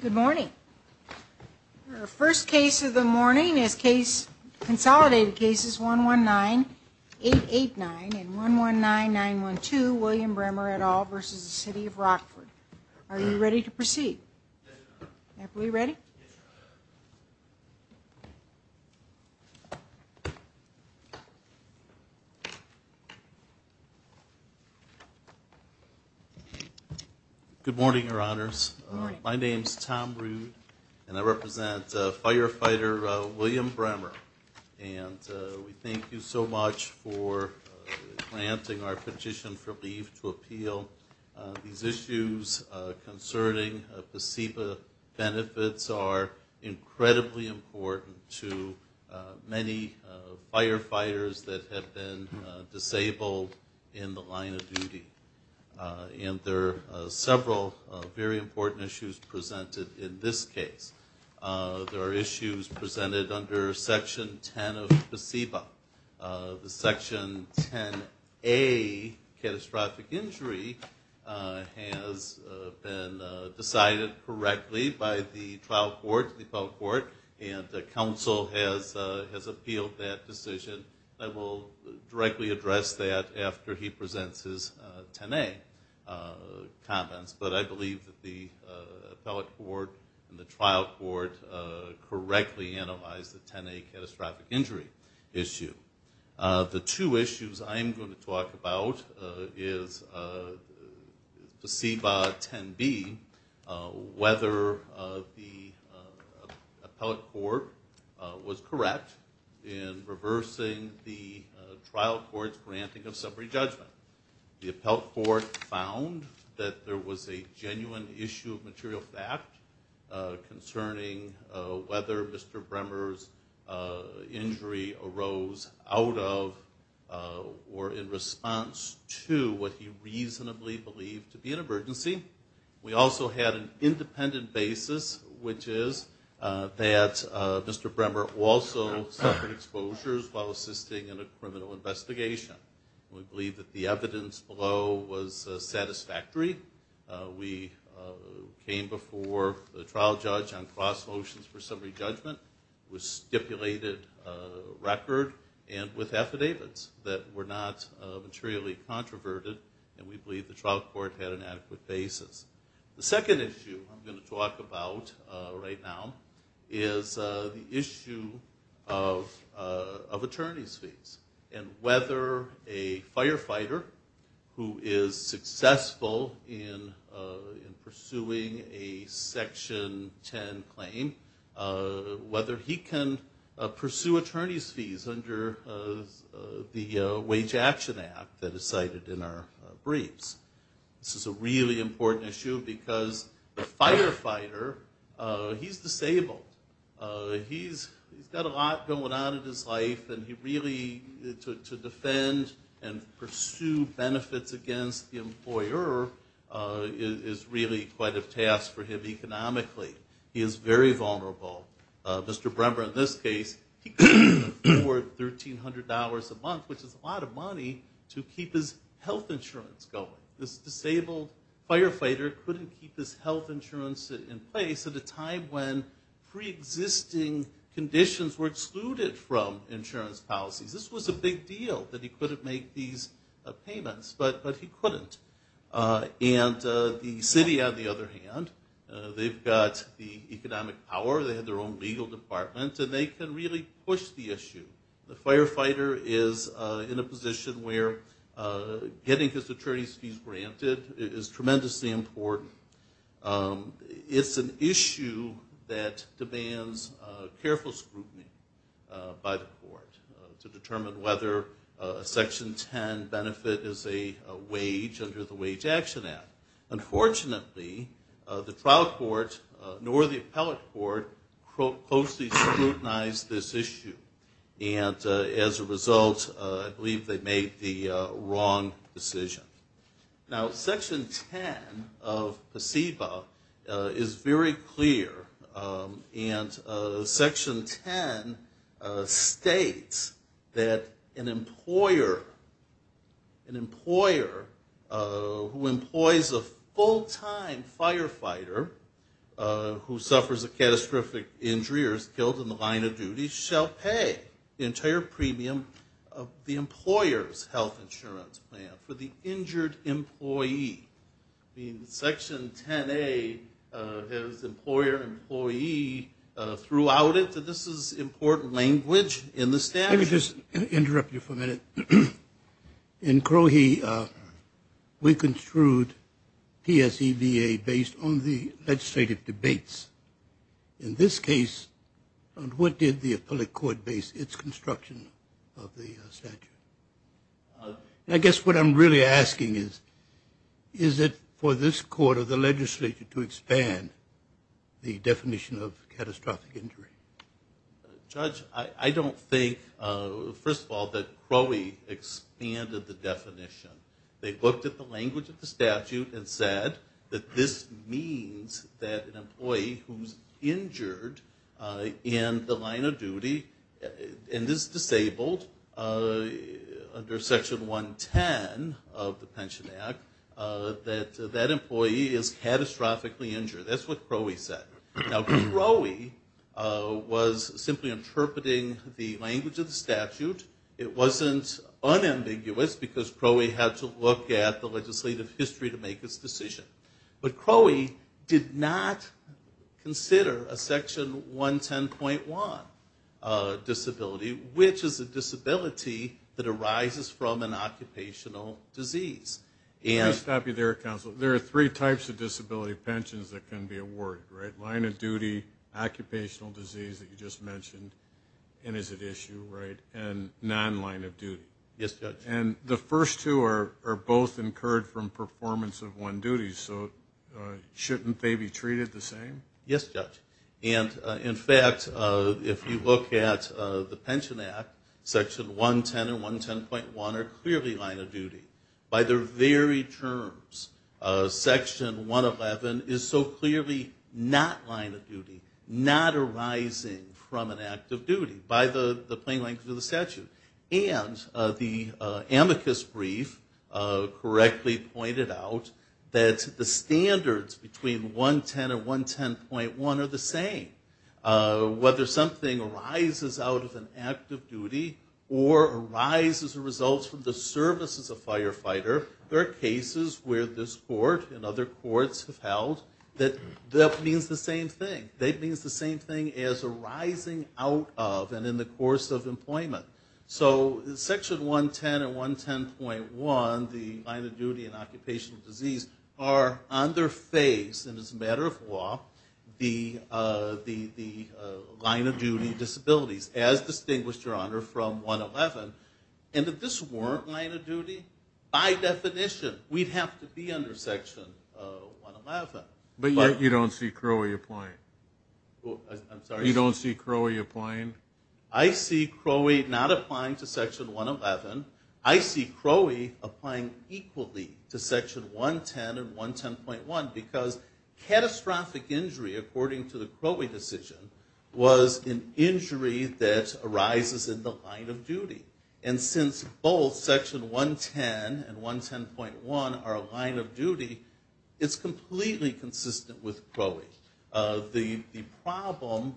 Good morning. Our first case of the morning is consolidated cases 119, 889 and 119, 912 William Bremer et al. v. City of Rockford. Are you ready to proceed? Are we ready? Good morning, Your Honors. My name is Tom Rood and I represent Firefighter William Bremer and we thank you so much for granting our petition for leave to appeal. These issues concerning placebo benefits are incredibly important to many firefighters that have been disabled in the line of duty. There are several very important issues presented in this case. There are issues presented under Section 10 of the placebo. The Section 10A catastrophic injury has been decided correctly by the trial court, the appellate court, and the council has appealed that decision. I will directly address that after he presents his 10A comments, but I believe that the appellate court and the trial court correctly analyzed the 10A catastrophic injury issue. The two issues I am going to talk about is placebo 10B, whether the appellate court was correct in reversing the trial court's granting of summary judgment. The appellate court found that there was a genuine issue of material fact concerning whether Mr. Bremer's injury arose out of or in response to what he reasonably believed to be an emergency. We also had an independent basis, which is that Mr. Bremer also suffered exposures while assisting in a criminal investigation. We believe that the evidence below was satisfactory. We came before the trial judge on cross motions for summary judgment. It was stipulated record and with affidavits that were not materially controverted, and we believe the trial court had an adequate basis. The second issue I'm going to talk about right now is the issue of attorney's fees and whether a firefighter who is successful in pursuing a Section 10 claim, whether he can pursue attorney's fees under the Wage Action Act that is cited in our briefs. This is a really important issue because the firefighter, he's disabled. He's got a lot going on in his life and he really, to defend and pursue benefits against the employer is really quite a task for him economically. He is very vulnerable. Mr. Bremer in this case, he couldn't afford $1,300 a month, which is a lot of money to keep his health insurance going. This disabled firefighter couldn't keep his health insurance in place at a time when pre-existing conditions were excluded from insurance policies. This was a big deal that he couldn't make these payments, but he couldn't. And the city, on the other hand, they've got the economic power. They have their own legal department and they can really push the issue. The firefighter is in a position where getting his attorney's fees granted is tremendously important. It's an issue that demands careful scrutiny by the court to determine whether a Section 10 benefit is a wage under the Wage Action Act. Unfortunately, the trial court nor the appellate court closely scrutinized this issue and as a result I believe they made the wrong decision. Now Section 10 of PSEBA is very clear and Section 10 states that an employer who employs a full-time firefighter who suffers a catastrophic injury or is killed in the line of duty shall pay the entire premium of the employer's health insurance plan for the injured employee. I mean, Section 10A has employer, employee throughout it. So this is important language in the statute. Let me just interrupt you for a minute. In Crohe, we construed PSEBA based on the legislative debates. In this case, what did the appellate court base its construction of the statute? I guess what I'm really asking is, is it for this court or the legislature to expand the definition of catastrophic injury? Judge, I don't think, first of all, that Crohe expanded the definition. They looked at the language of the statute and said that this means that an employee who's injured in the line of duty and is disabled under Section 110 of the Pension Act, that that employee is catastrophically injured. That's what Crohe said. Now Crohe was simply interpreting the language of the statute. It wasn't unambiguous because Crohe had to look at the legislative history to make its decision. But Crohe did not consider a Section 110.1 disability, which is a disability that arises from an occupational disease. Let me stop you there, counsel. There are three types of disability pensions that can be awarded, right? Line of duty, occupational disease that you just mentioned, and is it issue, right? And non-line of duty. Yes, Judge. And the first two are both incurred from performance of one duty, so shouldn't they be treated the same? Yes, Judge. And, in fact, if you look at the Pension Act, Section 110 and 110.1 are clearly line of duty. By their very terms, Section 111 is so clearly not line of duty, not arising from an act of duty. By the plain language of the statute. And the amicus brief correctly pointed out that the standards between 110 and 110.1 are the same. Whether something arises out of an act of duty or arises as a result from the service as a firefighter, there are cases where this court and other courts have held that that means the same thing. That means the same thing as arising out of and in the course of employment. So Section 110 and 110.1, the line of duty and occupational disease, are under phase, and it's a matter of law, the line of duty disabilities, as distinguished, Your Honor, from 111. And if this weren't line of duty, by definition, we'd have to be under Section 111. But you don't see Crowley applying? I'm sorry? You don't see Crowley applying? I see Crowley not applying to Section 111. I see Crowley applying equally to Section 110 and 110.1 because catastrophic injury, according to the Crowley decision, was an injury that arises in the line of duty. And since both Section 110 and 110.1 are a line of duty, it's completely consistent with Crowley. The problem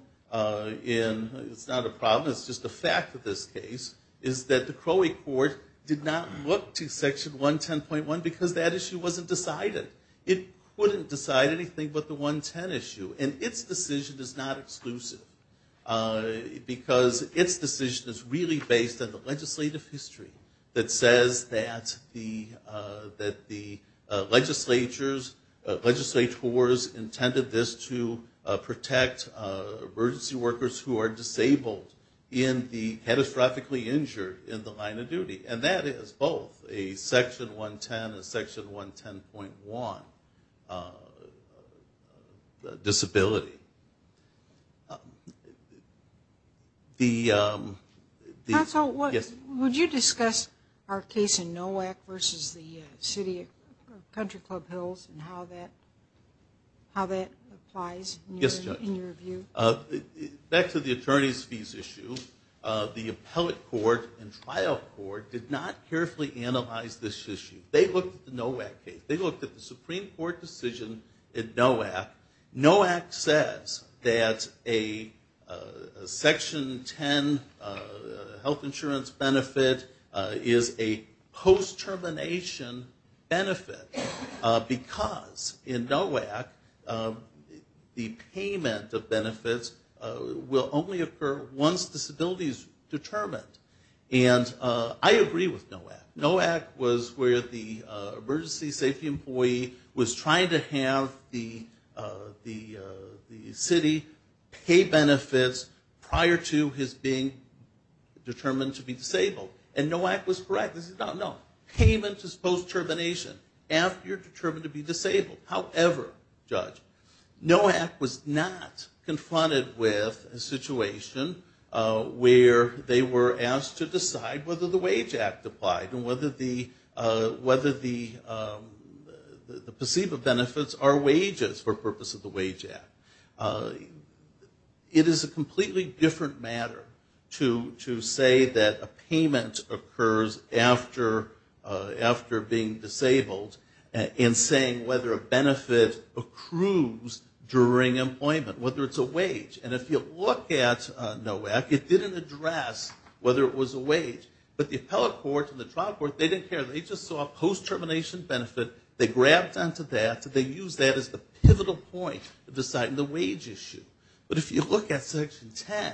in – it's not a problem, it's just a fact of this case – is that the Crowley Court did not look to Section 110.1 because that issue wasn't decided. It couldn't decide anything but the 110 issue. And its decision is not exclusive because its decision is really based on the legislative history that says that the legislatures – legislators intended this to protect emergency workers who are disabled in the – catastrophically injured in the line of duty. And that is both a Section 110 and a Section 110.1 disability. Counsel, would you discuss our case in NOAC versus the city of Country Club Hills and how that applies in your view? Yes, Judge. Back to the attorney's fees issue, the appellate court and trial court did not carefully analyze this issue. They looked at the NOAC case. They looked at the Supreme Court decision in NOAC. NOAC says that a Section 10 health insurance benefit is a post-termination benefit because in NOAC the payment of benefits will only occur once disability is determined. And I agree with NOAC. NOAC was where the emergency safety employee was trying to have the city pay benefits prior to his being determined to be disabled. And NOAC was correct. No, payment is post-termination after you're determined to be disabled. However, Judge, NOAC was not confronted with a situation where they were asked to decide whether the Wage Act applied and whether the perceivable benefits are wages for purpose of the Wage Act. It is a completely different matter to say that a payment occurs after being disabled and saying whether a benefit accrues during employment, whether it's a wage. And if you look at NOAC, it didn't address whether it was a wage. But the appellate court and the trial court, they didn't care. They just saw a post-termination benefit. They grabbed onto that. They used that as the pivotal point in deciding the wage issue. But if you look at Section 10,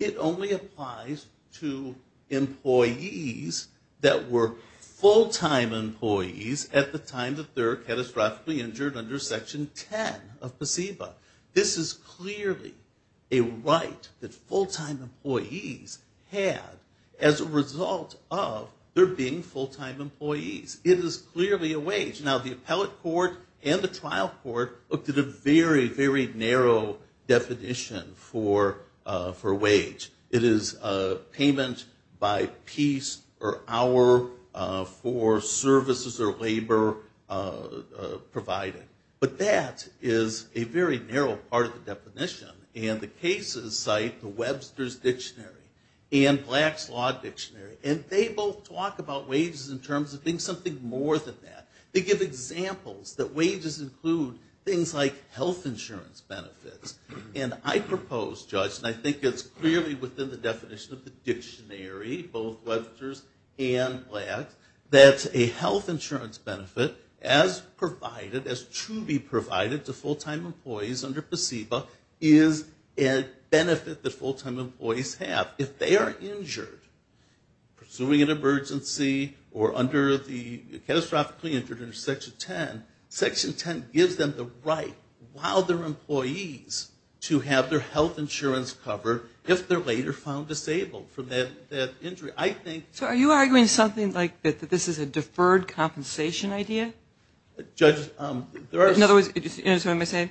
it only applies to employees that were full-time employees at the time that they were catastrophically injured under Section 10 of PCEBA. This is clearly a right that full-time employees had as a result of their being full-time employees. It is clearly a wage. Now, the appellate court and the trial court looked at a very, very narrow definition for wage. It is payment by piece or hour for services or labor provided. But that is a very narrow part of the definition. And the cases cite the Webster's Dictionary and Black's Law Dictionary. And they both talk about wages in terms of being something more than that. They give examples that wages include things like health insurance benefits. And I propose, Judge, and I think it's clearly within the definition of the dictionary, both Webster's and Black's, that a health insurance benefit as provided, as to be provided to full-time employees under PCEBA is a benefit that full-time employees have. If they are injured pursuing an emergency or under the catastrophically injured under Section 10, Section 10 gives them the right while they're employees to have their health insurance covered if they're later found disabled from that injury. So are you arguing something like that this is a deferred compensation idea? In other words, today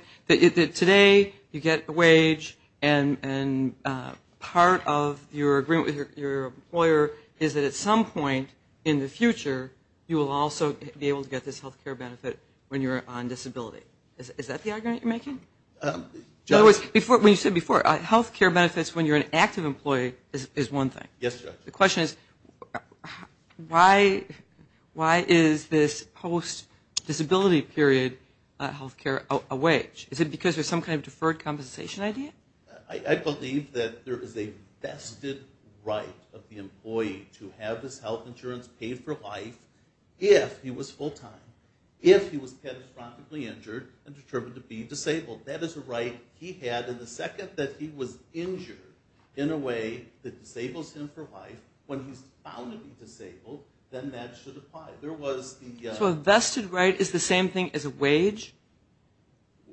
you get a wage, and part of your agreement with your employer is that at some point in the future, you will also be able to get this health care benefit when you're on disability. Is that the argument you're making? When you said before, health care benefits when you're an active employee is one thing. Yes, Judge. The question is why is this post-disability period health care a wage? Is it because there's some kind of deferred compensation idea? I believe that there is a vested right of the employee to have his health insurance paid for life if he was full-time, if he was catastrophically injured and determined to be disabled. That is a right he had, and the second that he was injured in a way that disables him for life, when he's found to be disabled, then that should apply. So a vested right is the same thing as a wage?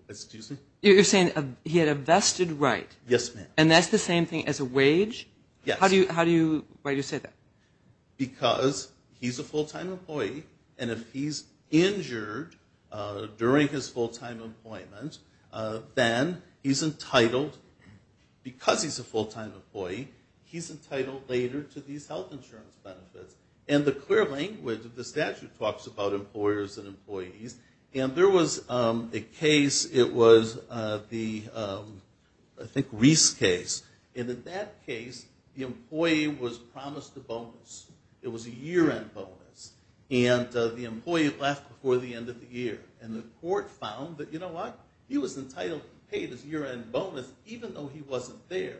Excuse me? You're saying he had a vested right. Yes, ma'am. And that's the same thing as a wage? Yes. Why do you say that? Because he's a full-time employee, and if he's injured during his full-time employment, then he's entitled, because he's a full-time employee, he's entitled later to these health insurance benefits. And the clear language of the statute talks about employers and employees, and there was a case, it was the, I think, Reese case, and in that case the employee was promised a bonus. It was a year-end bonus, and the employee left before the end of the year. And the court found that, you know what, he was entitled to be paid his year-end bonus even though he wasn't there.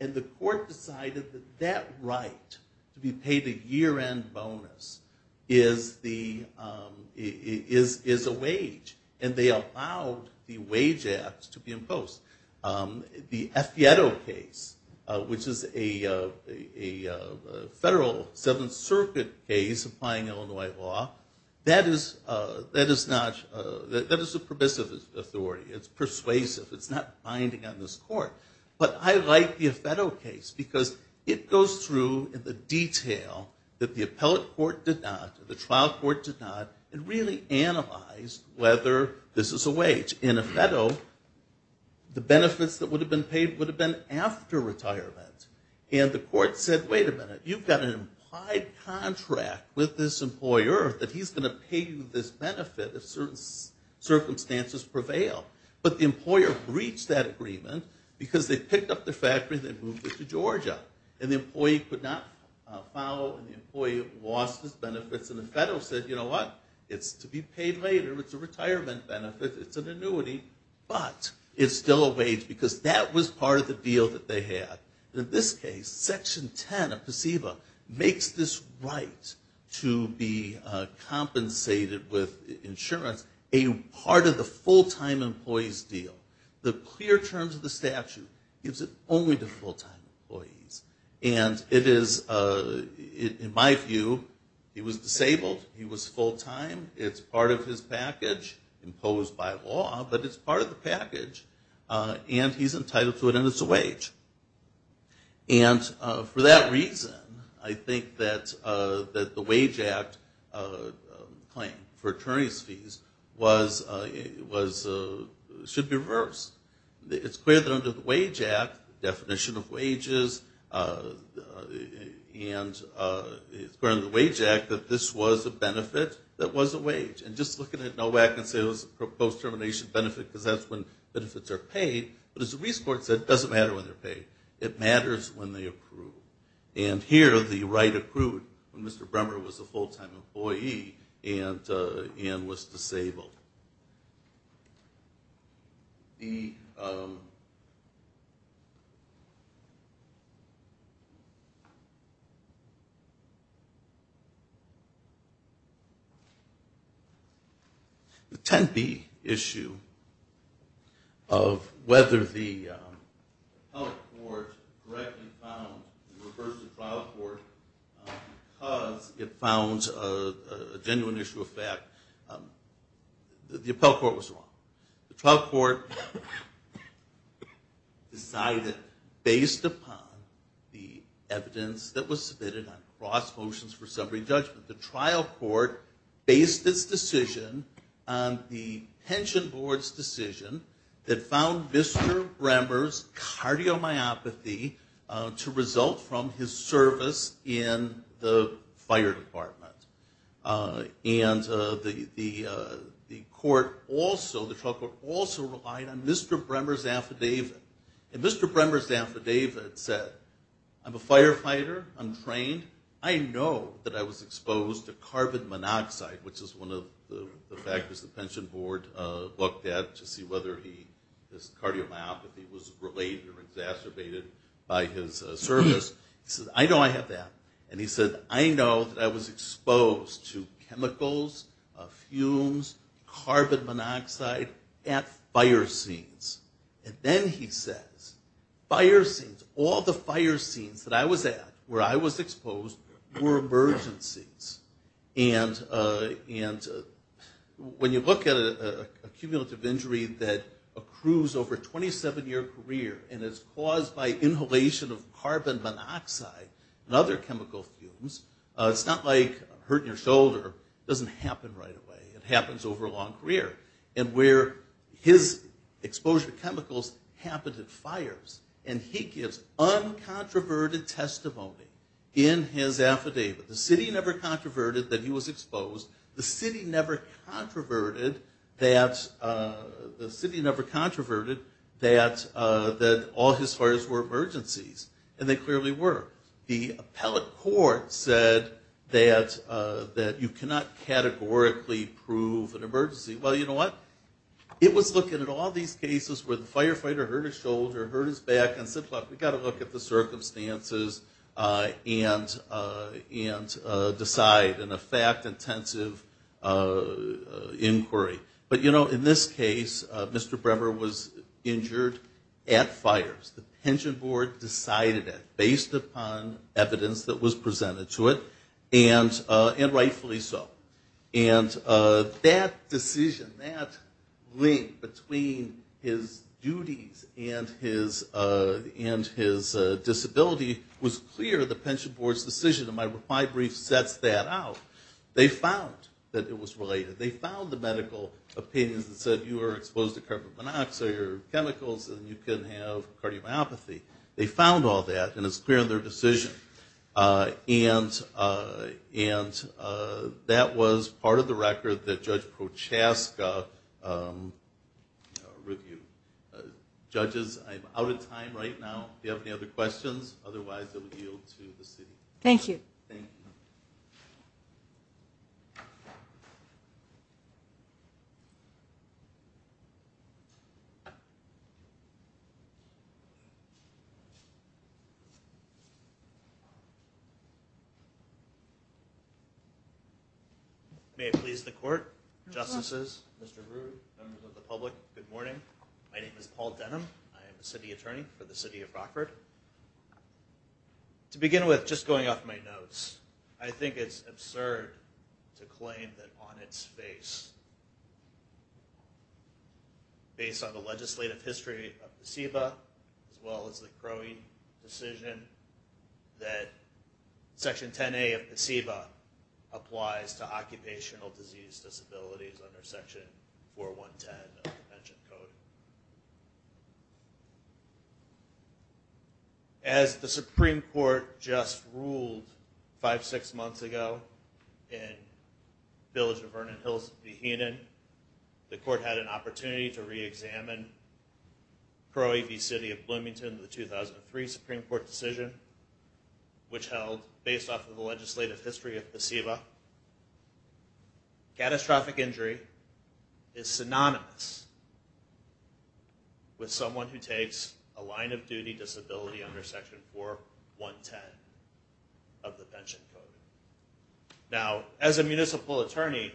And the court decided that that right to be paid a year-end bonus is a wage, and they allowed the wage act to be imposed. The Affietto case, which is a federal Seventh Circuit case applying Illinois law, that is a permissive authority. It's persuasive. It's not binding on this court. But I like the Affetto case because it goes through the detail that the appellate court did not, the trial court did not, and really analyzed whether this is a wage. In Affetto, the benefits that would have been paid would have been after retirement. And the court said, wait a minute, you've got an implied contract with this employer that he's going to pay you this benefit if certain circumstances prevail. But the employer breached that agreement because they picked up the factory and they moved it to Georgia. And the employee could not follow, and the employee lost his benefits. And Affetto said, you know what, it's to be paid later. It's a retirement benefit. It's an annuity. But it's still a wage because that was part of the deal that they had. In this case, Section 10 of PSEVA makes this right to be compensated with insurance a part of the full-time employees deal. The clear terms of the statute gives it only to full-time employees. And it is, in my view, he was disabled. He was full-time. It's part of his package imposed by law, but it's part of the package. And he's entitled to it, and it's a wage. And for that reason, I think that the Wage Act claim for attorney's fees should be reversed. It's clear that under the Wage Act, the definition of wages, and it's part of the Wage Act that this was a benefit that was a wage. And just looking at NOWAC and say it was a post-termination benefit because that's when benefits are paid. But as the Resports said, it doesn't matter when they're paid. It matters when they approve. And here, the right accrued when Mr. Bremmer was a full-time employee and was disabled. The Tempe issue of whether the health court correctly found the reverse of the trial court because it found a genuine issue of fact, the appellate court was wrong. The trial court decided, based upon the evidence that was submitted on cross motions for summary judgment, the trial court based its decision on the pension board's decision that found Mr. Bremmer's cardiomyopathy to result from his service in the fire department. And the court also, the trial court also relied on Mr. Bremmer's affidavit. And Mr. Bremmer's affidavit said, I'm a firefighter, I'm trained, I know that I was exposed to carbon monoxide, which is one of the factors the pension board looked at to see whether this cardiomyopathy was related or exacerbated by his service. He said, I know I have that. And he said, I know that I was exposed to chemicals, fumes, carbon monoxide at fire scenes. And then he says, fire scenes, all the fire scenes that I was at where I was exposed were emergencies. And when you look at a cumulative injury that accrues over a 27-year career and is caused by inhalation of carbon monoxide and other chemical fumes, it's not like a hurt in your shoulder. It doesn't happen right away. It happens over a long career. And where his exposure to chemicals happened at fires. And he gives uncontroverted testimony in his affidavit. The city never controverted that he was exposed. The city never controverted that all his fires were emergencies. And they clearly were. The appellate court said that you cannot categorically prove an emergency. Well, you know what? It was looking at all these cases where the firefighter hurt his shoulder, hurt his back, and said, look, we've got to look at the circumstances and decide in a fact-intensive inquiry. But, you know, in this case, Mr. Brewer was injured at fires. The pension board decided it based upon evidence that was presented to it, and rightfully so. And that decision, that link between his duties and his disability was clear. The pension board's decision in my reply brief sets that out. They found that it was related. They found the medical opinions that said you were exposed to carbon monoxide or chemicals and you can have cardiomyopathy. They found all that, and it's clear in their decision. And that was part of the record that Judge Prochaska reviewed. Judges, I'm out of time right now. Do you have any other questions? Otherwise, I will yield to the city. Thank you. May it please the court, justices, Mr. Brewer, members of the public, good morning. My name is Paul Denham. I am a city attorney for the city of Rockford. To begin with, just going off my notes, I think it's absurd to claim that on its face, based on the legislative history of the SEBA, as well as the Crowley decision, that Section 10A of the SEBA applies to occupational disease disabilities under Section 4110 of the Pension Code. As the Supreme Court just ruled five, six months ago, in the village of Vernon Hills, Vahinan, the court had an opportunity to reexamine Crowley v. City of Bloomington, the 2003 Supreme Court decision, which held, based off of the legislative history of the SEBA, catastrophic injury is synonymous with someone who takes a line of duty disability under Section 4110 of the Pension Code. Now, as a municipal attorney,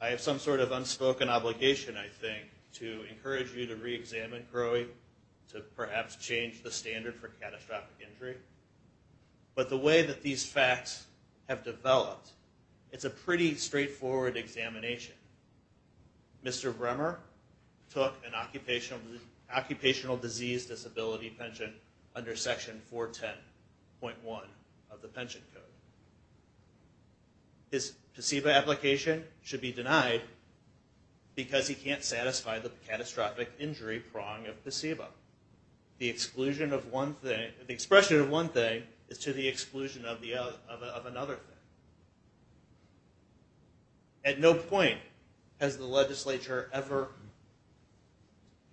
I have some sort of unspoken obligation, I think, to encourage you to reexamine Crowley, to perhaps change the standard for catastrophic injury. But the way that these facts have developed, it's a pretty straightforward examination. Mr. Brewer took an occupational disease disability pension under Section 410.1 of the Pension Code. His SEBA application should be denied because he can't satisfy the catastrophic injury prong of the SEBA. The exclusion of one thing, the expression of one thing is to the exclusion of another thing. At no point has the legislature ever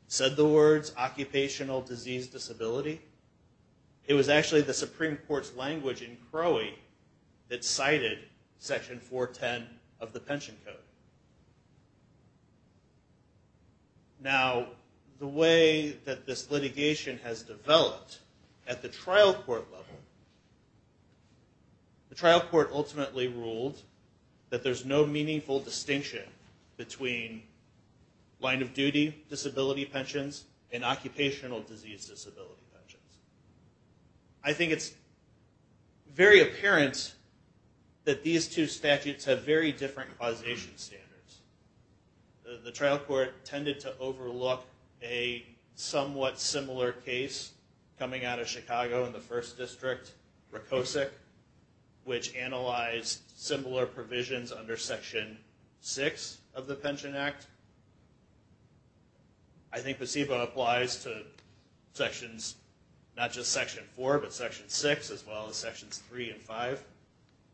said the words occupational disease disability. It was actually the Supreme Court's language in Crowley that cited Section 410 of the Pension Code. Now, the way that this litigation has developed at the trial court level, the trial court ultimately ruled that there's no meaningful distinction between line-of-duty disability pensions and occupational disease disability pensions. I think it's very apparent that these two statutes have very different causation standards. The trial court tended to overlook a somewhat similar case coming out of Chicago in the 1st District, Rokosik, which analyzed similar provisions under Section 6 of the Pension Act. I think the SEBA applies to not just Section 4, but Section 6, as well as Sections 3 and 5,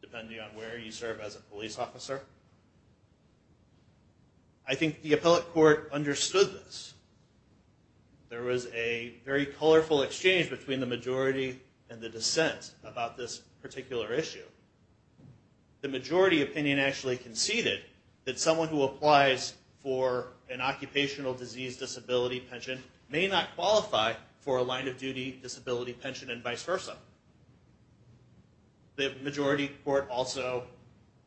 depending on where you serve as a police officer. I think the appellate court understood this. There was a very colorful exchange between the majority and the dissent about this particular issue. The majority opinion actually conceded that someone who applies for an occupational disease disability pension may not qualify for a line-of-duty disability pension and vice versa. The majority court also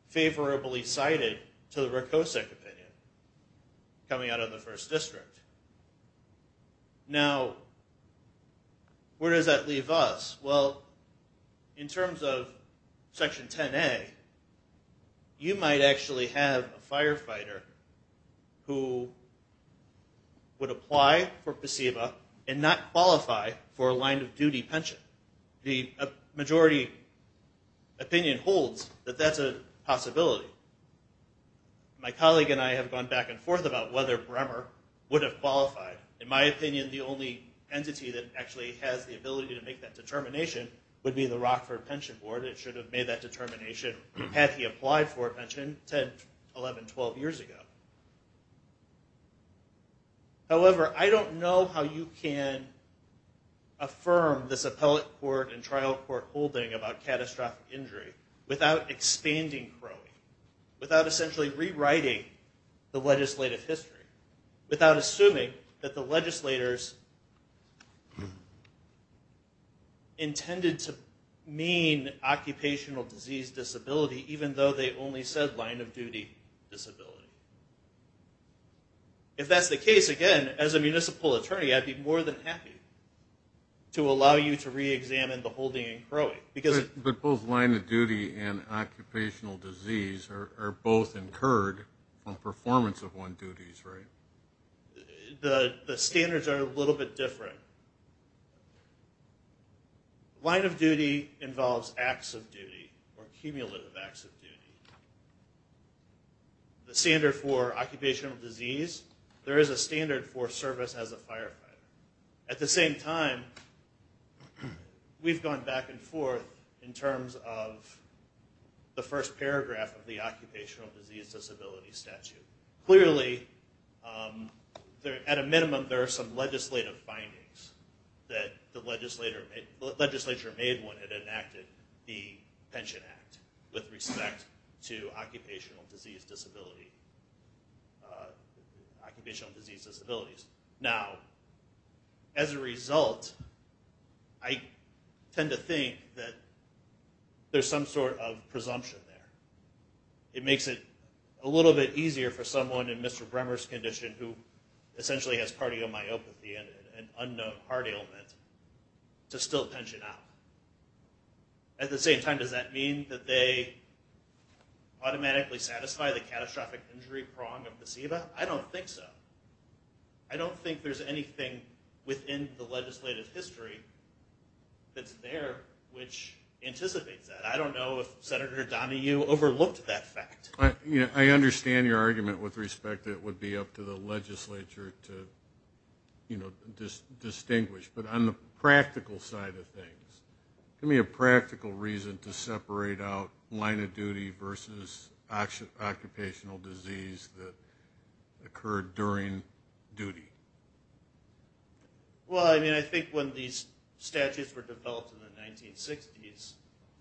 favorably cited to the Rokosik opinion coming out of the 1st District. Now, where does that leave us? Well, in terms of Section 10A, you might actually have a firefighter who would apply for PSEBA and not qualify for a line-of-duty pension. The majority opinion holds that that's a possibility. My colleague and I have gone back and forth about whether Bremer would have qualified. In my opinion, the only entity that actually has the ability to make that determination would be the Rockford Pension Board. It should have made that determination had he applied for a pension 10, 11, 12 years ago. However, I don't know how you can affirm this appellate court and trial court holding about catastrophic injury without expanding Crowley, without essentially rewriting the legislative history, without assuming that the legislators intended to mean occupational disease disability even though they only said line-of-duty disability. If that's the case, again, as a municipal attorney, I'd be more than happy to allow you to reexamine the holding in Crowley. But both line-of-duty and occupational disease are both incurred on performance of one's duties, right? The standards are a little bit different. Line-of-duty involves acts of duty or cumulative acts of duty. The standard for occupational disease, there is a standard for service as a firefighter. At the same time, we've gone back and forth in terms of the first paragraph of the occupational disease disability statute. Clearly, at a minimum, there are some legislative findings that the legislature made when it enacted the Pension Act with respect to occupational disease disabilities. Now, as a result, I tend to think that there's some sort of presumption there. It makes it a little bit easier for someone in Mr. Bremmer's condition who essentially has cardiomyopathy, an unknown heart ailment, to still pension out. At the same time, does that mean that they automatically satisfy the catastrophic injury prong of placebo? I don't think so. I don't think there's anything within the legislative history that's there which anticipates that. I don't know if Senator Donahue overlooked that fact. I understand your argument with respect that it would be up to the legislature to distinguish. But on the practical side of things, give me a practical reason to separate out line-of-duty versus occupational disease that occurred during duty. Well, I think when these statutes were developed in the 1960s,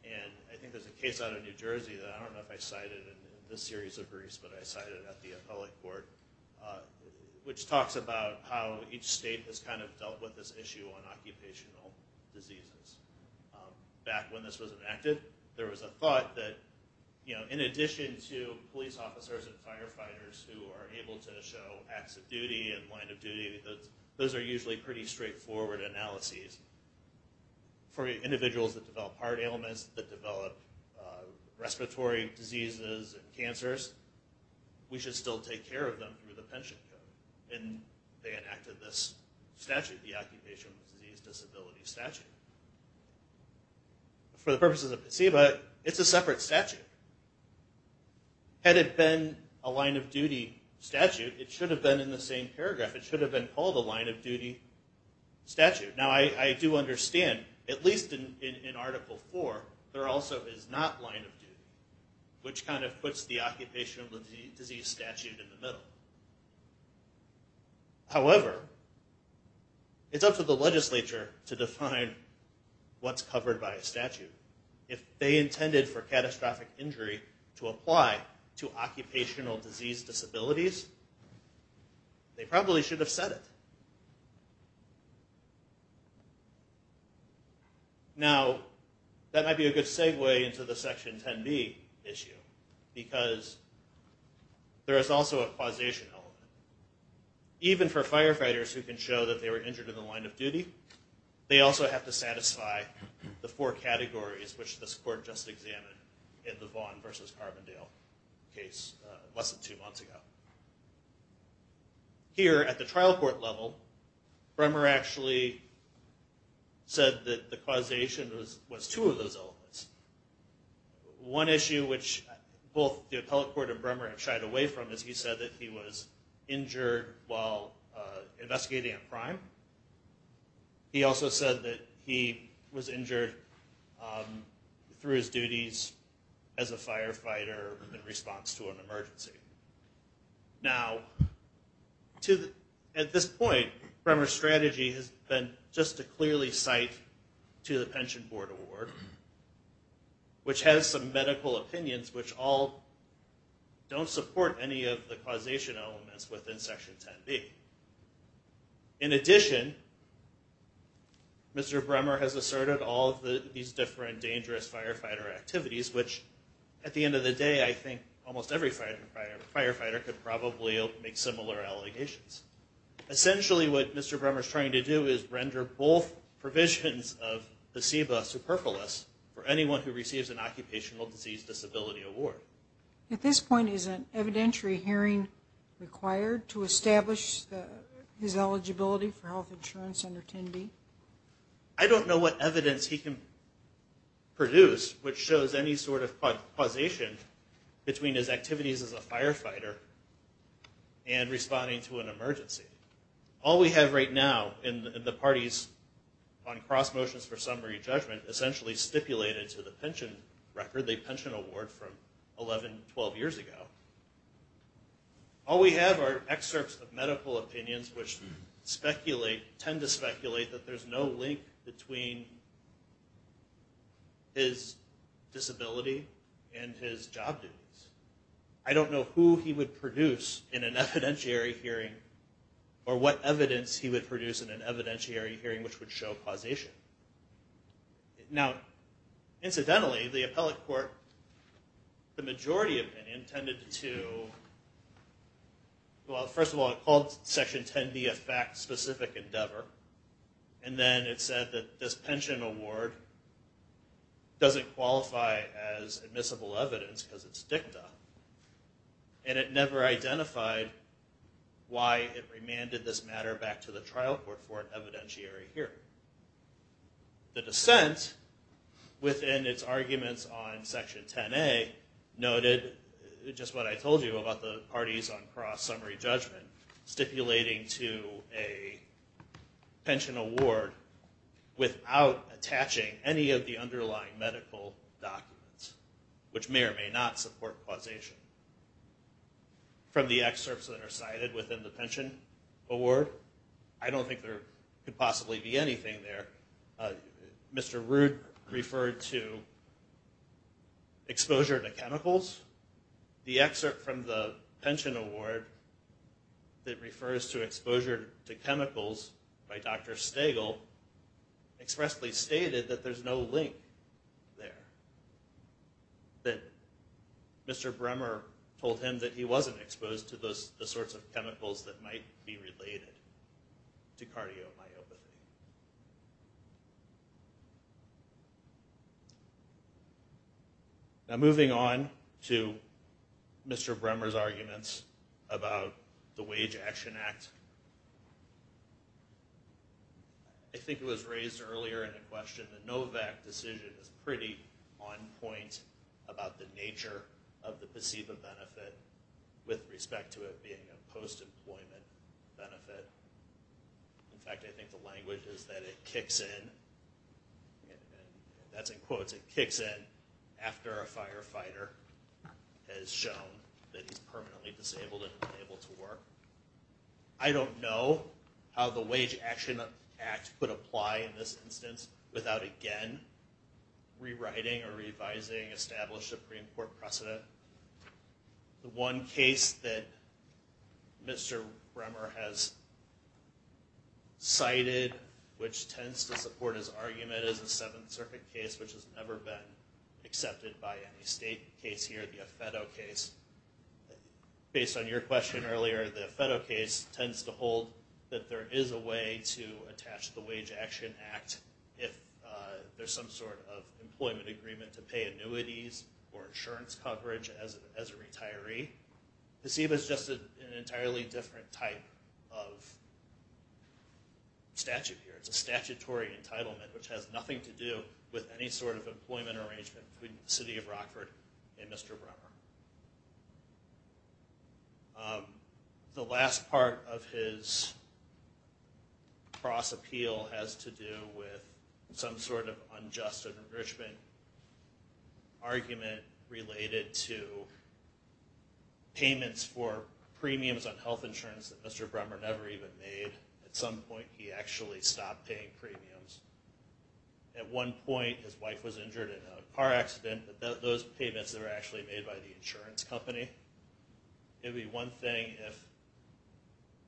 and I think there's a case out of New Jersey that I don't know if I cited in this series of briefs, but I cited it at the appellate court, which talks about how each state has kind of dealt with this issue on occupational diseases. Back when this was enacted, there was a thought that in addition to police officers and firefighters who are able to show acts of duty and line of duty, those are usually pretty straightforward analyses. For individuals that develop heart ailments, that develop respiratory diseases and cancers, we should still take care of them through the pension code. And they enacted this statute, the Occupational Disease Disability Statute. For the purposes of conceivable, it's a separate statute. Had it been a line-of-duty statute, it should have been in the same paragraph. It should have been called a line-of-duty statute. Now, I do understand, at least in Article IV, there also is not line-of-duty, which kind of puts the occupational disease statute in the middle. However, it's up to the legislature to define what's covered by a statute. If they intended for catastrophic injury to apply to occupational disease disabilities, they probably should have said it. Now, that might be a good segue into the Section 10b issue, because there is also a causation element. Even for firefighters who can show that they were injured in the line-of-duty, they also have to satisfy the four categories, which this court just examined in the Vaughn v. Carbondale case less than two months ago. Here, at the trial court level, Brehmer actually said that the causation was two of those elements. One issue which both the appellate court and Brehmer have shied away from is he said that he was injured while investigating a crime. He also said that he was injured through his duties as a firefighter in response to an emergency. Now, at this point, Brehmer's strategy has been just to clearly cite to the Pension Board Award, which has some medical opinions which all don't support any of the causation elements within Section 10b. In addition, Mr. Brehmer has asserted all of these different dangerous firefighter activities, which, at the end of the day, I think almost every firefighter could probably make similar allegations. Essentially, what Mr. Brehmer is trying to do is render both provisions of the CEBA superfluous for anyone who receives an occupational disease disability award. At this point, is an evidentiary hearing required to establish his eligibility for health insurance under 10b? I don't know what evidence he can produce which shows any sort of causation between his activities as a firefighter and responding to an emergency. All we have right now in the parties on cross motions for summary judgment essentially stipulated to the pension record, the pension award from 11, 12 years ago. All we have are excerpts of medical opinions which tend to speculate that there's no link between his disability and his job duties. I don't know who he would produce in an evidentiary hearing or what evidence he would produce in an evidentiary hearing which would show causation. Now, incidentally, the appellate court, the majority opinion tended to... Well, first of all, it called section 10b a fact-specific endeavor. And then it said that this pension award doesn't qualify as admissible evidence because it's dicta. And it never identified why it remanded this matter back to the trial court for an evidentiary hearing. The dissent within its arguments on section 10a noted just what I told you about the parties on cross summary judgment stipulating to a pension award without attaching any of the underlying medical documents which may or may not support causation. From the excerpts that are cited within the pension award, I don't think there could possibly be anything there. Mr. Root referred to exposure to chemicals. The excerpt from the pension award that refers to exposure to chemicals by Dr. Stagel expressly stated that there's no link there. That Mr. Bremer told him that he wasn't exposed to the sorts of chemicals that might be related to cardiomyopathy. Now, moving on to Mr. Bremer's arguments about the Wage Action Act. I think it was raised earlier in the question that the NOVAC decision is pretty on point about the nature of the placebo benefit with respect to it being a post-employment benefit. In fact, I think the language is that it kicks in, that's in quotes, it kicks in after a firefighter has shown that he's permanently disabled and unable to work. I don't know how the Wage Action Act would apply in this instance without again rewriting or revising established Supreme Court precedent. The one case that Mr. Bremer has cited which tends to support his argument is the Seventh Circuit case which has never been accepted by any state case here, the Affetto case. Based on your question earlier, the Affetto case tends to hold that there is a way to attach the Wage Action Act if there's some sort of employment agreement to pay annuities or insurance coverage as a retiree. Placebo is just an entirely different type of statute here. It's a statutory entitlement which has nothing to do with any sort of employment arrangement between the city of Rockford and Mr. Bremer. The last part of his cross-appeal has to do with some sort of unjust enrichment argument related to payments for premiums on health insurance that Mr. Bremer never even made. At some point, he actually stopped paying premiums. At one point, his wife was injured in a car accident, but those payments were actually made by the insurance company. It would be one thing if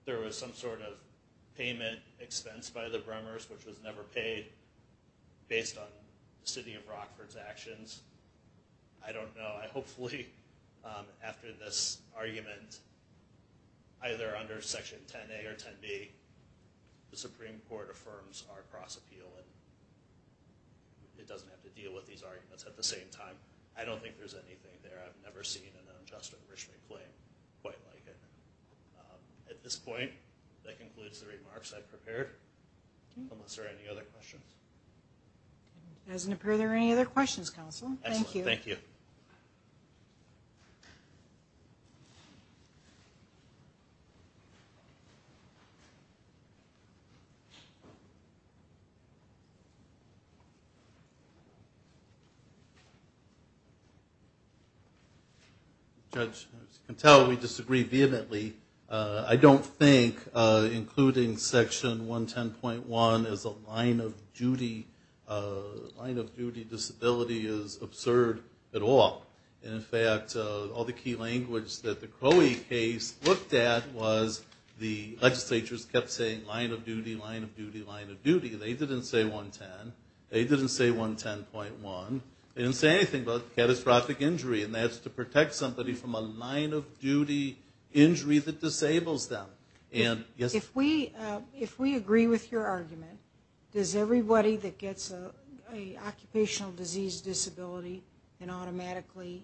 there was some sort of payment expense by the Bremers which was never paid based on the city of Rockford's actions. I don't know. Hopefully, after this argument, either under Section 10A or 10B, the Supreme Court affirms our cross-appeal and it doesn't have to deal with these arguments at the same time. I don't think there's anything there. I've never seen an unjust enrichment claim quite like it. At this point, that concludes the remarks I prepared, unless there are any other questions. It doesn't appear there are any other questions, Counsel. Thank you. Thank you. Thank you. Judge, as you can tell, we disagree vehemently. I don't think including Section 110.1 as a line of duty disability is absurd at all. In fact, all the key language that the Crowey case looked at was the legislatures kept saying line of duty, line of duty, line of duty. They didn't say 110. They didn't say 110.1. They didn't say anything about catastrophic injury, and that's to protect somebody from a line of duty injury that disables them. If we agree with your argument, does everybody that gets an occupational disease disability and automatically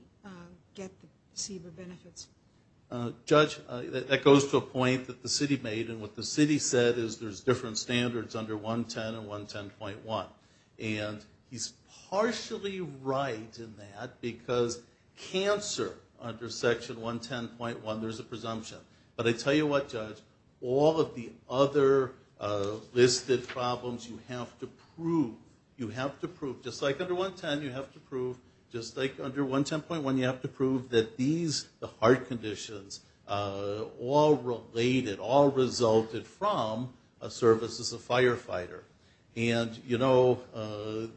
get the CBER benefits? Judge, that goes to a point that the city made, and what the city said is there's different standards under 110 and 110.1. And he's partially right in that, because cancer under Section 110.1, there's a presumption. But I tell you what, Judge, all of the other listed problems you have to prove, just like under 110, you have to prove just like under 110.1, you have to prove that these, the heart conditions, all related, all resulted from a service as a firefighter. And, you know,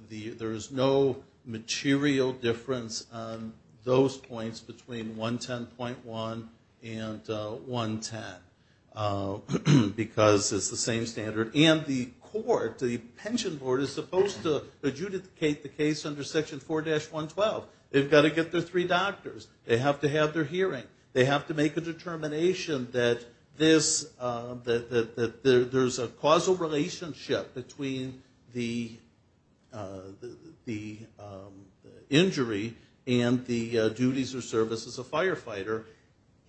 there's no material difference on those points between 110.1 and 110, because it's the same standard. And the court, the pension board, is supposed to adjudicate the case under Section 4-112. They've got to get their three doctors. They have to have their hearing. They have to make a determination that this, that there's a causal relationship between the injury and the duties or service as a firefighter.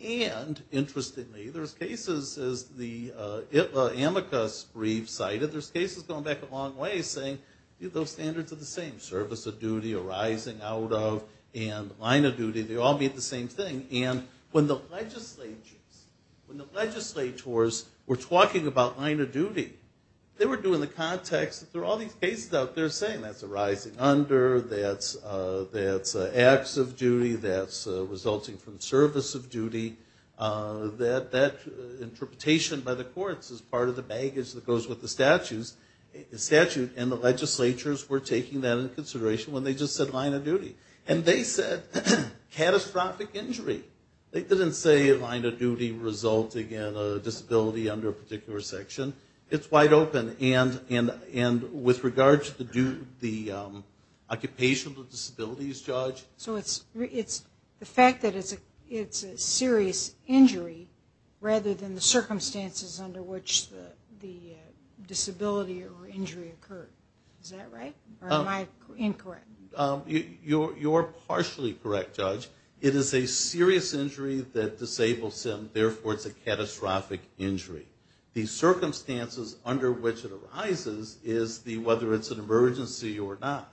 And, interestingly, there's cases, as the AMICUS brief cited, there's cases going back a long way saying, you know, those standards are the same. Service of duty, arising out of, and line of duty, they all mean the same thing. And when the legislatures, when the legislators were talking about line of duty, they were doing the context that there are all these cases out there saying that's arising under, that's acts of duty, that's resulting from service of duty, that interpretation by the courts is part of the baggage that goes with the statutes. And the legislatures were taking that into consideration when they just said line of duty. And they said catastrophic injury. They didn't say line of duty resulting in a disability under a particular section. It's wide open. And with regards to the occupation of disabilities, Judge? So it's the fact that it's a serious injury rather than the circumstances under which the disability or injury occurred. Is that right? Or am I incorrect? You're partially correct, Judge. It is a serious injury that disables them, therefore it's a catastrophic injury. The circumstances under which it arises is the, whether it's an emergency or not,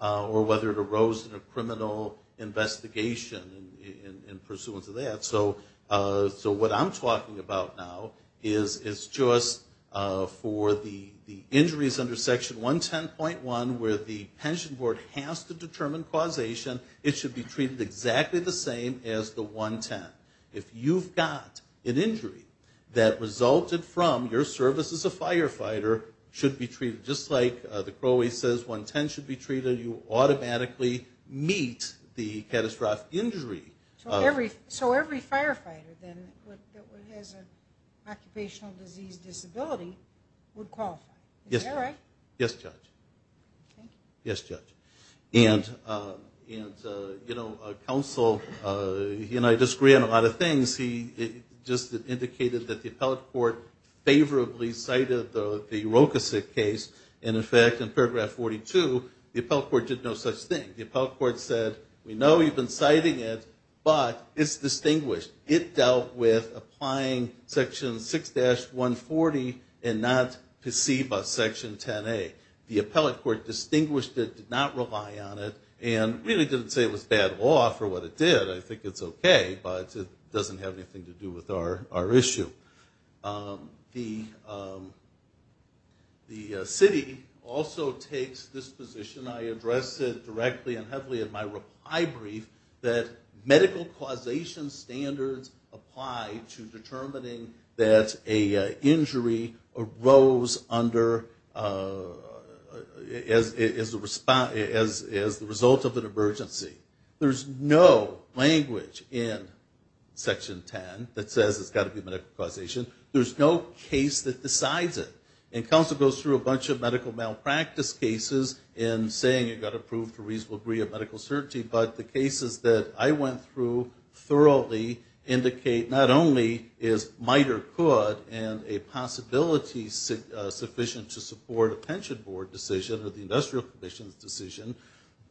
or whether it arose in a criminal investigation in pursuance of that. So what I'm talking about now is just for the injuries under Section 110.1 where the pension board has to determine causation, it should be treated exactly the same as the 110. If you've got an injury that resulted from your service as a firefighter, it should be treated just like Brother Crowley says, 110 should be treated, you automatically meet the catastrophic injury. So every firefighter then that has an occupational disease disability would qualify. Yes. Is that right? Yes, Judge. Okay. Yes, Judge. And, you know, counsel, you know, I disagree on a lot of things. He just indicated that the appellate court favorably cited the Rokosik case, and, in fact, in paragraph 42, the appellate court did no such thing. The appellate court said, we know you've been citing it, but it's distinguished. It dealt with applying Section 6-140 and not PSEBA Section 10A. The appellate court distinguished it, did not rely on it, and really didn't say it was bad law for what it did. I think it's okay, but it doesn't have anything to do with our issue. The city also takes this position, I addressed it directly and heavily in my reply brief, that medical causation standards apply to determining that an injury arose under as the result of an emergency. There's no language in Section 10 that says it's got to be medical causation. There's no case that decides it. And counsel goes through a bunch of medical malpractice cases and saying you've got to prove to a reasonable degree of medical certainty, but the cases that I went through thoroughly indicate not only is MITRE good and a possibility sufficient to support a pension board decision or the industrial commission's decision,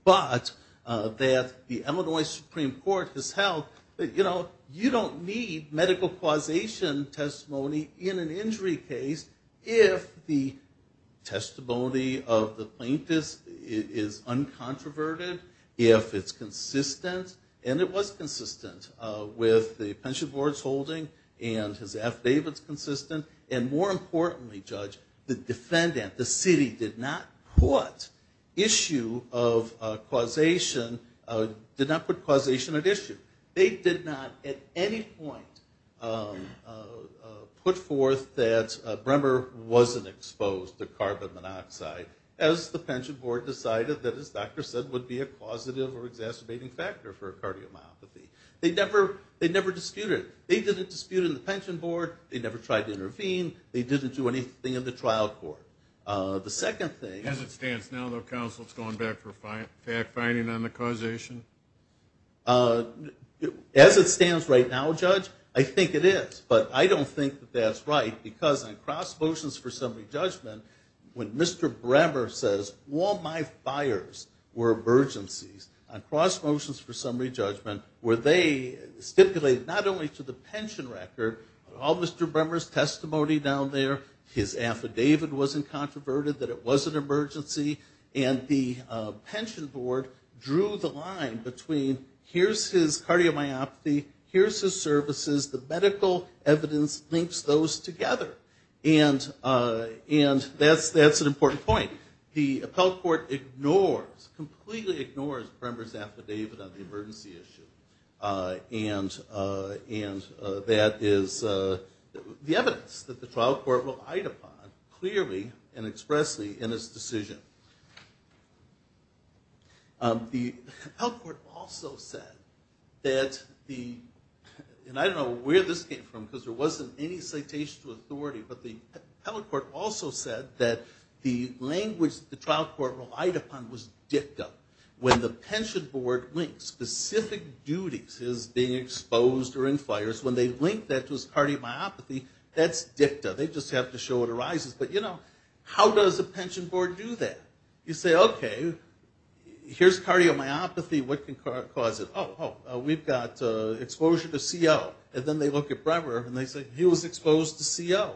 but that the Illinois Supreme Court has held that, you know, you don't need medical causation testimony in an injury case if the testimony of the plaintiff is uncontroverted, if it's consistent, and it was consistent with the pension board's holding and his affidavits consistent, and more importantly, Judge, the defendant, the city, did not put causation at issue. They did not at any point put forth that Brehmer wasn't exposed to carbon monoxide as the pension board decided that, as the doctor said, would be a causative or exacerbating factor for cardiomyopathy. They never disputed it. They didn't dispute it in the pension board. They never tried to intervene. They didn't do anything in the trial court. The second thing. As it stands now, though, for fact-finding on the causation? As it stands right now, Judge, I think it is, but I don't think that that's right because on cross motions for summary judgment, when Mr. Brehmer says, all my fires were emergencies, on cross motions for summary judgment, where they stipulated not only to the pension record, all Mr. Brehmer's testimony down there, his affidavit wasn't controverted, that it was an emergency, and the pension board drew the line between here's his cardiomyopathy, here's his services, the medical evidence links those together. And that's an important point. The appellate court ignores, completely ignores Brehmer's affidavit on the emergency issue. And that is the evidence that the trial court relied upon clearly and expressly in its decision. The appellate court also said that the, and I don't know where this came from because there wasn't any citation to authority, but the appellate court also said that the language the trial court relied upon was dicta. When the pension board links specific duties as being exposed or in fires, when they link that to his cardiomyopathy, that's dicta. They just have to show what arises. But, you know, how does a pension board do that? You say, okay, here's cardiomyopathy, what can cause it? Oh, oh, we've got exposure to CO. And then they look at Brehmer and they say he was exposed to CO.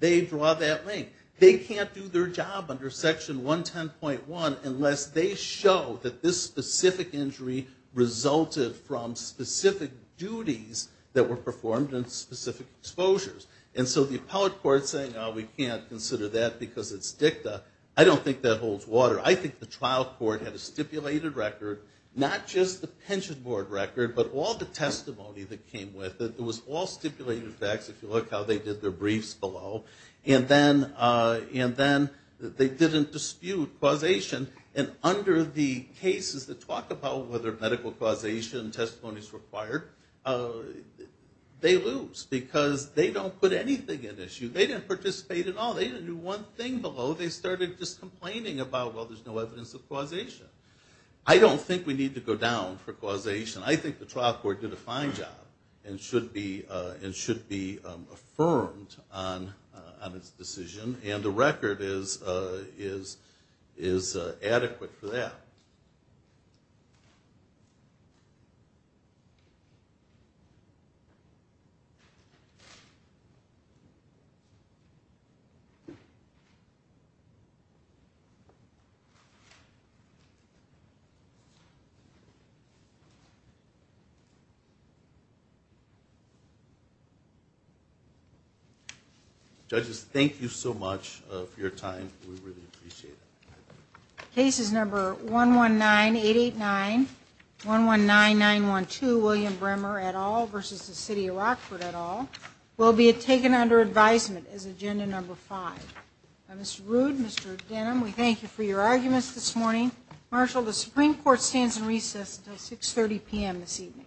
They draw that link. They can't do their job under section 110.1 unless they show that this specific injury resulted from specific duties that were performed and specific exposures. And so the appellate court is saying, oh, we can't consider that because it's dicta. I don't think that holds water. I think the trial court had a stipulated record, not just the pension board record, but all the testimony that came with it. It was all stipulated facts. If you look how they did their briefs below. And then they didn't dispute causation. And under the cases that talk about whether medical causation and testimony is required, they lose. Because they don't put anything at issue. They didn't participate at all. They didn't do one thing below. They started just complaining about, well, there's no evidence of causation. I don't think we need to go down for causation. I think the trial court did a fine job and should be affirmed on its decision. And the record is adequate for that. Judges, thank you so much for your time. We really appreciate it. Cases number 119889, 119912, William Bremer et al. versus the city of Rockford et al. will be taken under advisement as agenda number five. Mr. Rood, Mr. Denham, we thank you for your arguments this morning. Marshal, the Supreme Court stands in recess until 6.30 p.m. this evening. 6.30 p.m.